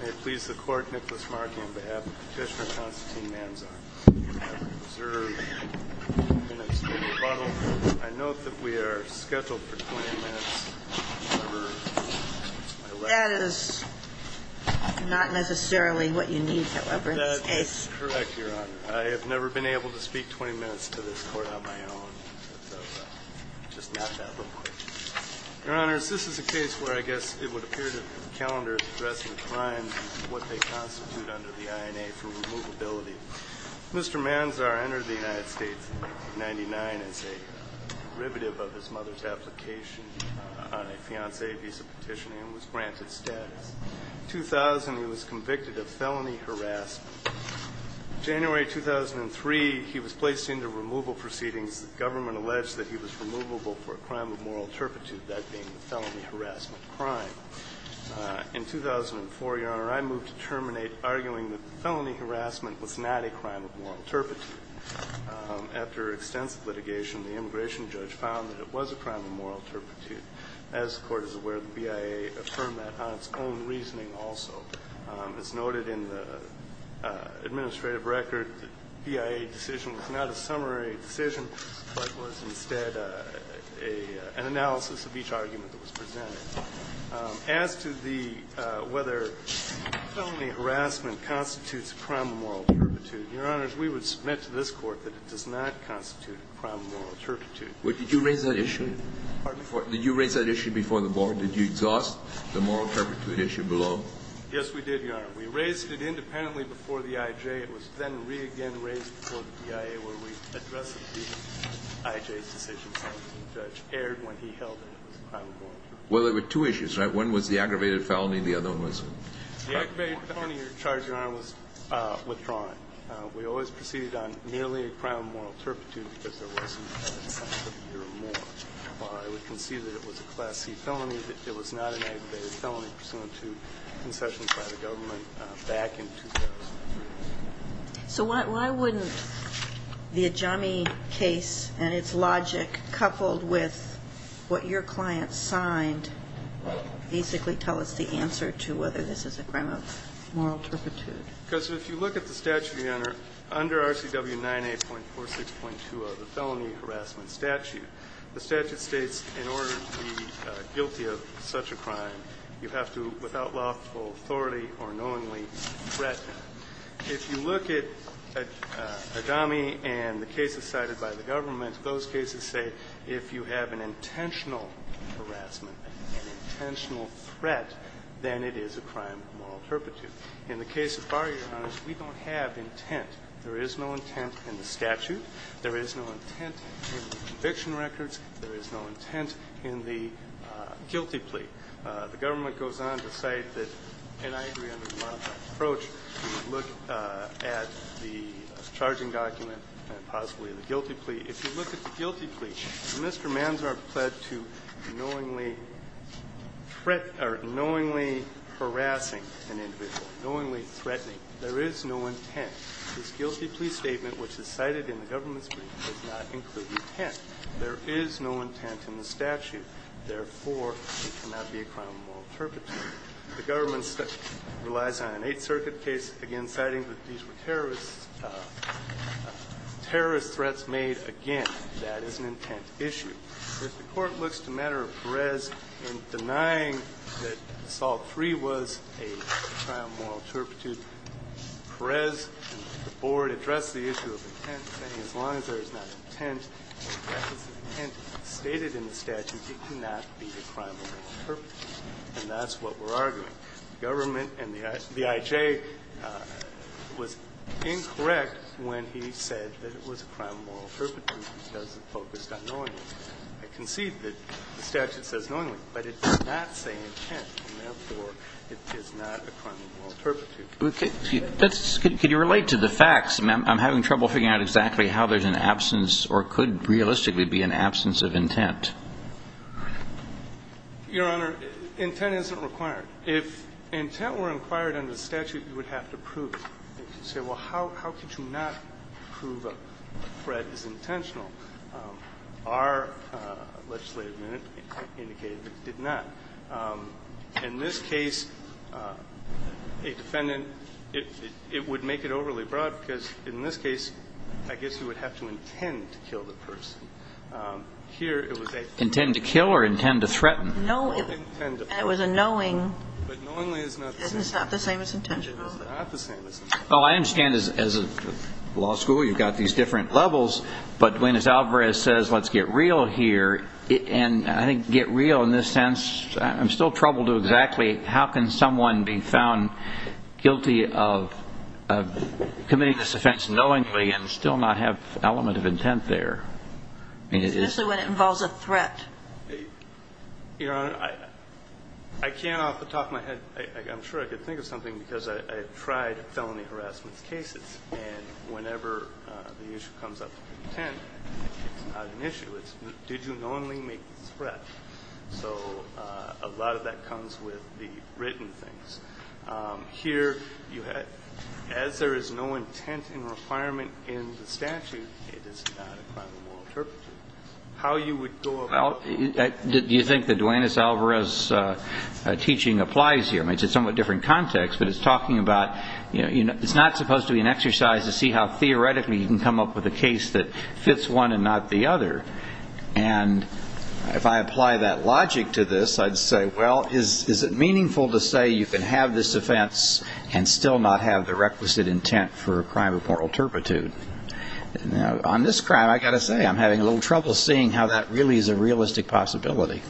May it please the Court, Nicholas Markey on behalf of the petitioner Konstantin Manzar. You have observed 20 minutes to the rebuttal. I note that we are scheduled for 20 minutes. However, I left... That is not necessarily what you need, however, in this case. That is correct, Your Honor. I have never been able to speak 20 minutes to this Court on my own. So I just left that real quick. Your Honors, this is a case where I guess it would appear that the calendar is addressing crimes and what they constitute under the INA for removability. Mr. Manzar entered the United States in 1999 as a derivative of his mother's application on a fiancé visa petition and was granted status. In 2000, he was convicted of felony harassment. In January 2003, he was placed into removal proceedings. The government alleged that he was removable for a crime of moral turpitude, that being the felony harassment crime. In 2004, Your Honor, I moved to terminate, arguing that the felony harassment was not a crime of moral turpitude. After extensive litigation, the immigration judge found that it was a crime of moral turpitude. As the Court is aware, the BIA affirmed that on its own reasoning also. As noted in the administrative record, the BIA decision was not a summary decision but was instead an analysis of each argument that was presented. As to the whether felony harassment constitutes a crime of moral turpitude, Your Honors, we would submit to this Court that it does not constitute a crime of moral turpitude. But did you raise that issue? Pardon? Did you raise that issue before the Board? Did you exhaust the moral turpitude issue below? Yes, we did, Your Honor. We raised it independently before the I.J. It was then re-again raised before the BIA where we addressed the I.J.'s decision and the judge erred when he held it was a crime of moral turpitude. Well, there were two issues, right? One was the aggravated felony and the other one was the crime of moral turpitude. The aggravated felony you're charging, Your Honor, was withdrawing. We always proceeded on merely a crime of moral turpitude because there wasn't a crime of moral turpitude or more. While I would concede that it was a Class C felony, it was not an aggravated felony pursuant to concessions by the government back in 2003. So why wouldn't the Ajami case and its logic coupled with what your client signed basically tell us the answer to whether this is a crime of moral turpitude? Because if you look at the statute, Your Honor, under RCW 9A.46.20, the felony harassment statute, the statute states in order to be guilty of such a crime, you have to, without lawful authority or knowingly, threaten. If you look at Ajami and the cases cited by the government, those cases say if you have an intentional harassment, an intentional threat, then it is a crime of moral turpitude. In the case of Barr, Your Honor, we don't have intent. There is no intent in the statute. There is no intent in the conviction records. There is no intent in the guilty plea. The government goes on to cite that, and I agree under the modified approach to look at the charging document and possibly the guilty plea. If you look at the guilty plea, Mr. Manzar pled to knowingly harassing an individual, knowingly threatening. There is no intent. This guilty plea statement, which is cited in the government's brief, does not include intent. There is no intent in the statute. Therefore, it cannot be a crime of moral turpitude. The government relies on an Eighth Circuit case, again, citing that these were terrorist threats made. Again, that is an intent issue. If the Court looks to a matter of Perez in denying that assault three was a crime of moral turpitude, Perez and the Board address the issue of intent, saying as long as there is not intent, that is an intent. Stated in the statute, it cannot be a crime of moral turpitude. And that's what we're arguing. The government and the IJ was incorrect when he said that it was a crime of moral turpitude because it focused on knowingly. I concede that the statute says knowingly, but it does not say intent. And therefore, it is not a crime of moral turpitude. Kennedy. Could you relate to the facts? I'm having trouble figuring out exactly how there's an absence or could realistically be an absence of intent. Your Honor, intent isn't required. If intent were required under the statute, you would have to prove it. You could say, well, how could you not prove a threat is intentional? Our legislative minute indicated it did not. In this case, a defendant, it would make it overly broad because, in this case, I guess you would have to intend to kill the person. Here, it was a threat. Intend to kill or intend to threaten? No, it was a knowing. But knowingly is not the same. It's not the same as intentional. It is not the same as intentional. Well, I understand as a law school, you've got these different levels. But when as Alvarez says, let's get real here, and I think get real in this sense, I'm still troubled to exactly how can someone be found guilty of committing this offense knowingly and still not have element of intent there? Especially when it involves a threat. Your Honor, I can't off the top of my head. I'm sure I could think of something because I tried felony harassment cases. And whenever the issue comes up with intent, it's not an issue. It's did you knowingly make the threat? So a lot of that comes with the written things. Here, as there is no intent and requirement in the statute, it is not a crime of moral interpretation. How you would go about it? Do you think that Duane S. Alvarez's teaching applies here? It's a somewhat different context, but it's talking about it's not supposed to be an exercise to see how theoretically you can come up with a case that fits one and not the other. And if I apply that logic to this, I'd say, well, is it meaningful to say you can have this offense and still not have the requisite intent for a crime of moral turpitude? On this crime, I've got to say I'm having a little trouble seeing how that really is a realistic possibility.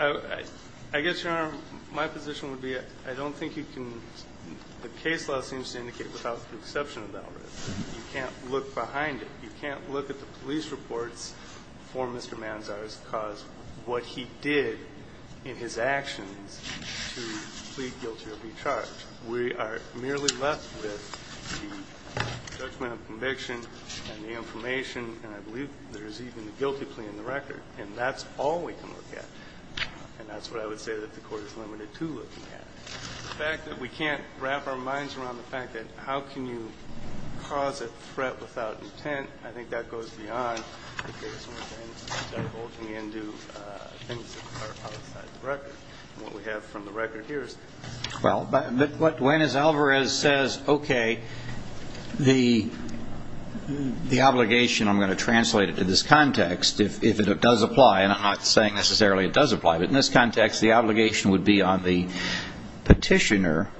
I guess, Your Honor, my position would be I don't think you can the case law seems to indicate without the exception of Alvarez. You can't look behind it. You can't look at the police reports for Mr. Manzar's cause, what he did in his actions to plead guilty or be charged. We are merely left with the judgment of conviction and the information, and I believe there's even a guilty plea in the record. And that's all we can look at. And that's what I would say that the Court is limited to looking at. The fact that we can't wrap our minds around the fact that how can you cause a threat without intent, I think that goes beyond. I think there's more things that are holding into things that are outside the record. And what we have from the record here is this. Well, but what Duane, as Alvarez says, okay, the obligation, I'm going to translate it to this context, if it does apply, and I'm not saying necessarily it does apply, but in this context, the obligation would be on the petitioner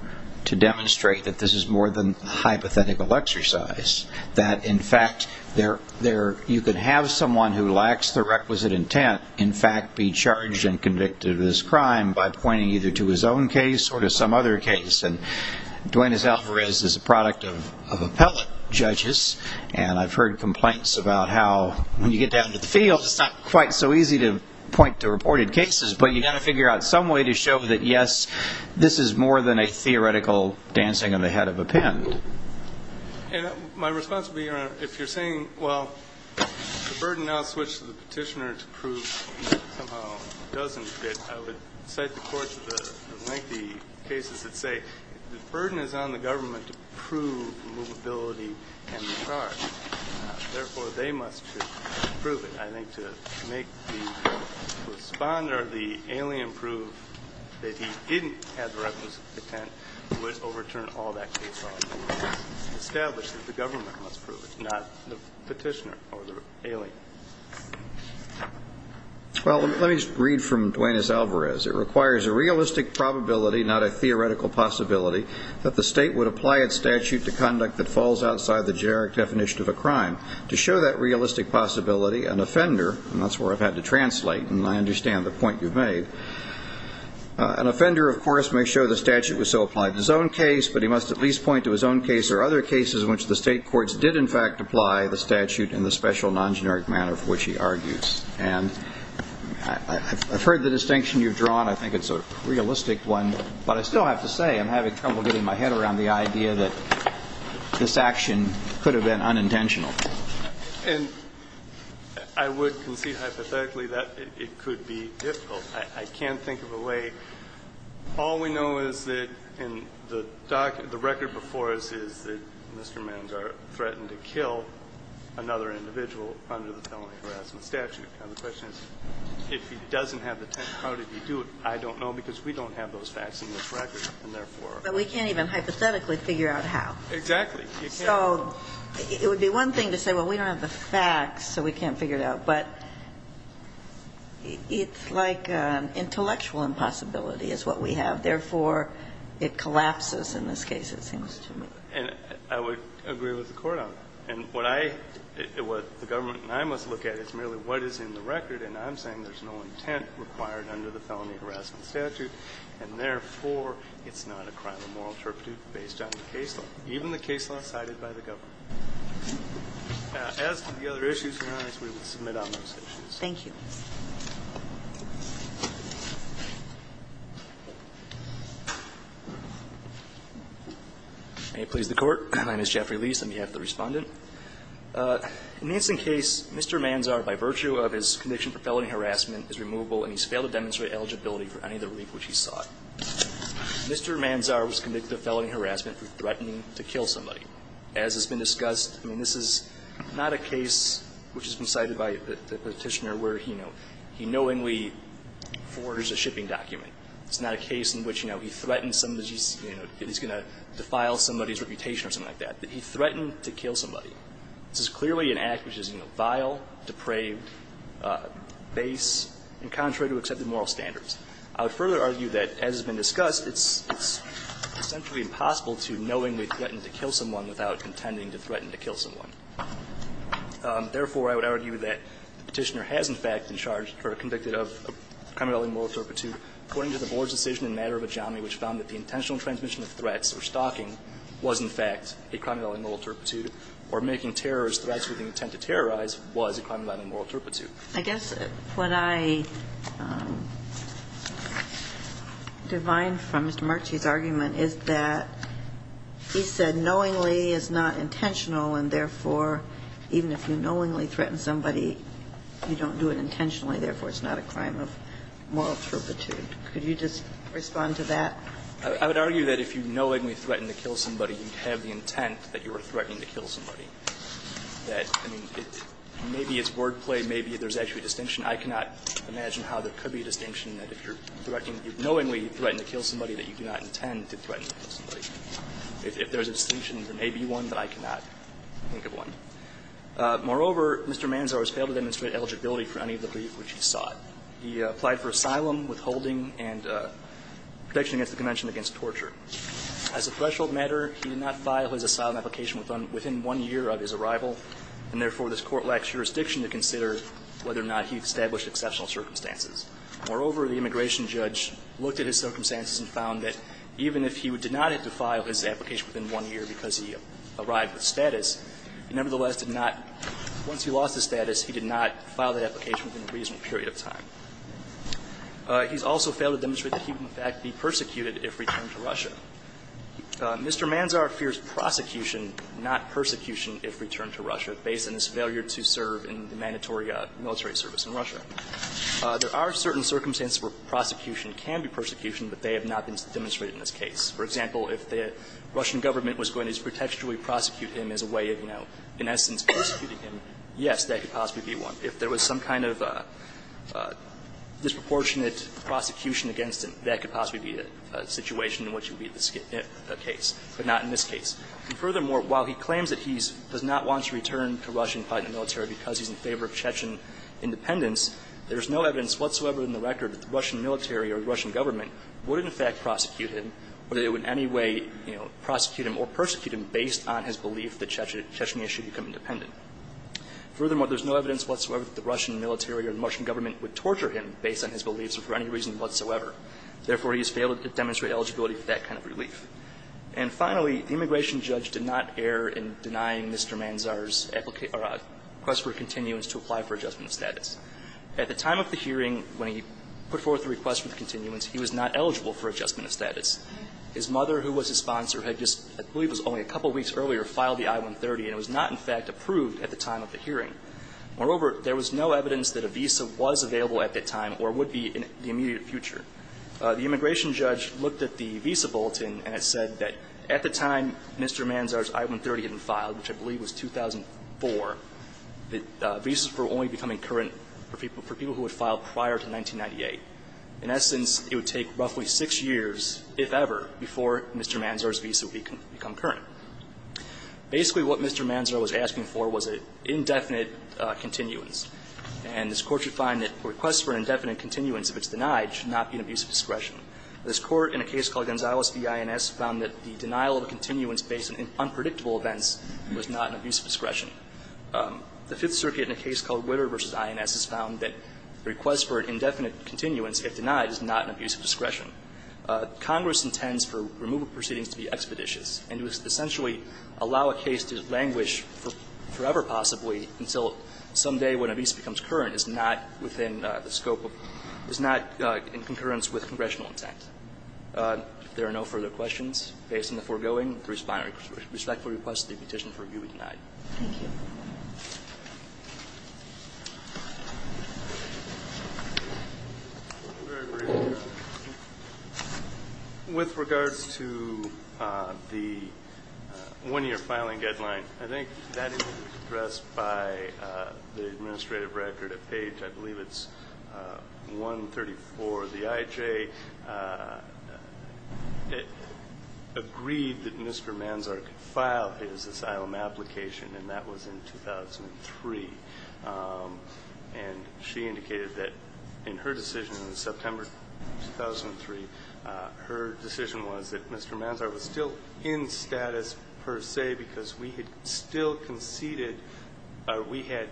to demonstrate that this is more than a hypothetical exercise, that in fact you could have someone who lacks the requisite intent in fact be charged and convicted of this crime by pointing either to his own case or to some other case. And Duane, as Alvarez is a product of appellate judges, and I've heard complaints about how when you get down to the field, it's not quite so easy to point to reported cases, but you've got to figure out some way to show that, yes, this is more than a theoretical dancing on the head of a pen. And my response would be, Your Honor, if you're saying, well, the burden now is switched to the petitioner to prove somehow it doesn't fit, I would cite the courts of the lengthy cases that say the burden is on the government to prove the movability and the charge. Therefore, they must prove it. I think to make the respondent or the alien prove that he didn't have the requisite intent would overturn all that case law. It's established that the government must prove it, not the petitioner or the alien. Well, let me just read from Duane S. Alvarez. It requires a realistic probability, not a theoretical possibility, that the state would apply its statute to conduct that falls outside the generic definition of a crime. To show that realistic possibility, an offender, and that's where I've had to translate, and I understand the point you've made, an offender, of course, may show the statute was so applied to his own case, but he must at least point to his own case or other cases in which the state courts did, in fact, apply the statute in the special non-generic manner for which he argues. And I've heard the distinction you've drawn. I think it's a realistic one. But I still have to say I'm having trouble getting my head around the idea that this action could have been unintentional. And I would concede hypothetically that it could be difficult. I can't think of a way. All we know is that in the record before us is that Mr. Manzar threatened to kill another individual under the felony harassment statute. Now, the question is if he doesn't have the intent, how did he do it? I don't know because we don't have those facts in this record, and therefore. But we can't even hypothetically figure out how. Exactly. So it would be one thing to say, well, we don't have the facts, so we can't figure it out, but it's like intellectual impossibility is what we have. Therefore, it collapses in this case, it seems to me. And I would agree with the Court on that. And what I – what the government and I must look at is merely what is in the record, and I'm saying there's no intent required under the felony harassment statute, and therefore, it's not a crime of moral turpitude based on the case law, even the case law cited by the government. Now, as to the other issues, Your Honor, we will submit on those issues. Thank you. May it please the Court. My name is Jeffrey Lies on behalf of the Respondent. In this case, Mr. Manzar, by virtue of his conviction for felony harassment, is removable, and he's failed to demonstrate eligibility for any of the relief which he sought. Mr. Manzar was convicted of felony harassment for threatening to kill somebody. As has been discussed, I mean, this is not a case which has been cited by the Petitioner where, you know, he knowingly forges a shipping document. It's not a case in which, you know, he threatens somebody's, you know, he's going to defile somebody's reputation or something like that. He threatened to kill somebody. This is clearly an act which is, you know, vile, depraved, base, and contrary to accepted moral standards. I would further argue that, as has been discussed, it's essentially impossible to knowingly threaten to kill someone without contending to threaten to kill someone. Therefore, I would argue that the Petitioner has, in fact, been charged or convicted of a crime of moral turpitude according to the Board's decision in a matter of autonomy which found that the intentional transmission of threats or stalking was, in fact, a crime of moral turpitude, or making terrorist threats with the intent to terrorize was a crime of moral turpitude. I guess what I divine from Mr. Marchese's argument is that he said knowingly is not intentional and, therefore, even if you knowingly threaten somebody, you don't do it intentionally. Therefore, it's not a crime of moral turpitude. Could you just respond to that? I would argue that if you knowingly threaten to kill somebody, you have the intent that you are threatening to kill somebody. That, I mean, maybe it's wordplay. Maybe there's actually a distinction. I cannot imagine how there could be a distinction that if you're threatening to kill somebody, you knowingly threaten to kill somebody, that you do not intend to threaten to kill somebody. If there's a distinction, there may be one that I cannot think of one. Moreover, Mr. Manzar has failed to demonstrate eligibility for any of the brief which he sought. He applied for asylum, withholding and protection against the Convention against torture. As a threshold matter, he did not file his asylum application within one year of his arrival, and, therefore, this Court lacks jurisdiction to consider whether or not he established exceptional circumstances. Moreover, the immigration judge looked at his circumstances and found that even if he did not have to file his application within one year because he arrived with status, he nevertheless did not – once he lost his status, he did not file that application within a reasonable period of time. He's also failed to demonstrate that he would, in fact, be persecuted if returned to Russia. Mr. Manzar fears prosecution, not persecution, if returned to Russia based on his failure to serve in the mandatory military service in Russia. There are certain circumstances where prosecution can be persecution, but they have not been demonstrated in this case. For example, if the Russian government was going to pretextually prosecute him as a way of, you know, in essence, prosecuting him, yes, that could possibly be one. If there was some kind of disproportionate prosecution against him, that could possibly be a situation in which it would be a case, but not in this case. And furthermore, while he claims that he does not want to return to Russia and fight in the military because he's in favor of Chechen independence, there is no evidence whatsoever in the record that the Russian military or the Russian government would, in fact, prosecute him, whether it would in any way, you know, prosecute him or persecute him based on his belief that Chechens should become independent. Furthermore, there is no evidence whatsoever that the Russian military or the Russian government would torture him based on his beliefs for any reason whatsoever. Therefore, he has failed to demonstrate eligibility for that kind of relief. And finally, the immigration judge did not err in denying Mr. Manzar's request for a continuance to apply for adjustment of status. At the time of the hearing, when he put forth the request for the continuance, he was not eligible for adjustment of status. His mother, who was his sponsor, had just, I believe it was only a couple of weeks earlier, filed the I-130, and it was not, in fact, approved at the time of the hearing. Moreover, there was no evidence that a visa was available at that time or would be in the immediate future. The immigration judge looked at the visa bulletin and it said that at the time Mr. Manzar's I-130 had been filed, which I believe was 2004, that visas were only becoming current for people who had filed prior to 1998. In essence, it would take roughly six years, if ever, before Mr. Manzar's visa would become current. Basically, what Mr. Manzar was asking for was an indefinite continuance. And this Court should find that a request for an indefinite continuance, if it's denied, should not be an abuse of discretion. This Court, in a case called Gonzales v. INS, found that the denial of a continuance based on unpredictable events was not an abuse of discretion. The Fifth Circuit, in a case called Witter v. INS, has found that a request for an indefinite continuance, if denied, is not an abuse of discretion. Congress intends for removal proceedings to be expeditious. And to essentially allow a case to languish forever, possibly, until someday when a visa becomes current, is not within the scope of – is not in concurrence with congressional intent. If there are no further questions, based on the foregoing, the Respondent respectfully requests that the petition for review be denied. Thank you. Very briefly, with regard to the one-year filing deadline, I think that is addressed by the Administrative Record at Page, I believe it's 134. The IJ agreed that Mr. Manzar could file his asylum application, and that was in 2003. And she indicated that in her decision in September 2003, her decision was that Mr. Manzar was still in status per se because we had still conceded – or we had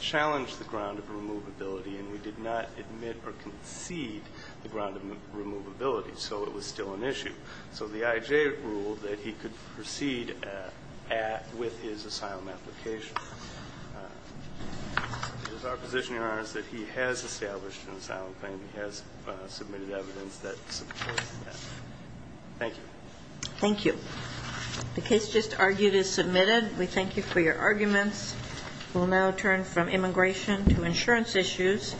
challenged the ground of removability, and we did not admit or concede the ground of removability, so it was still an issue. So the IJ ruled that he could proceed with his asylum application. It is our position, Your Honors, that he has established an asylum claim. He has submitted evidence that supports that. Thank you. Thank you. The case just argued is submitted. We thank you for your arguments. We'll now turn from immigration to insurance issues.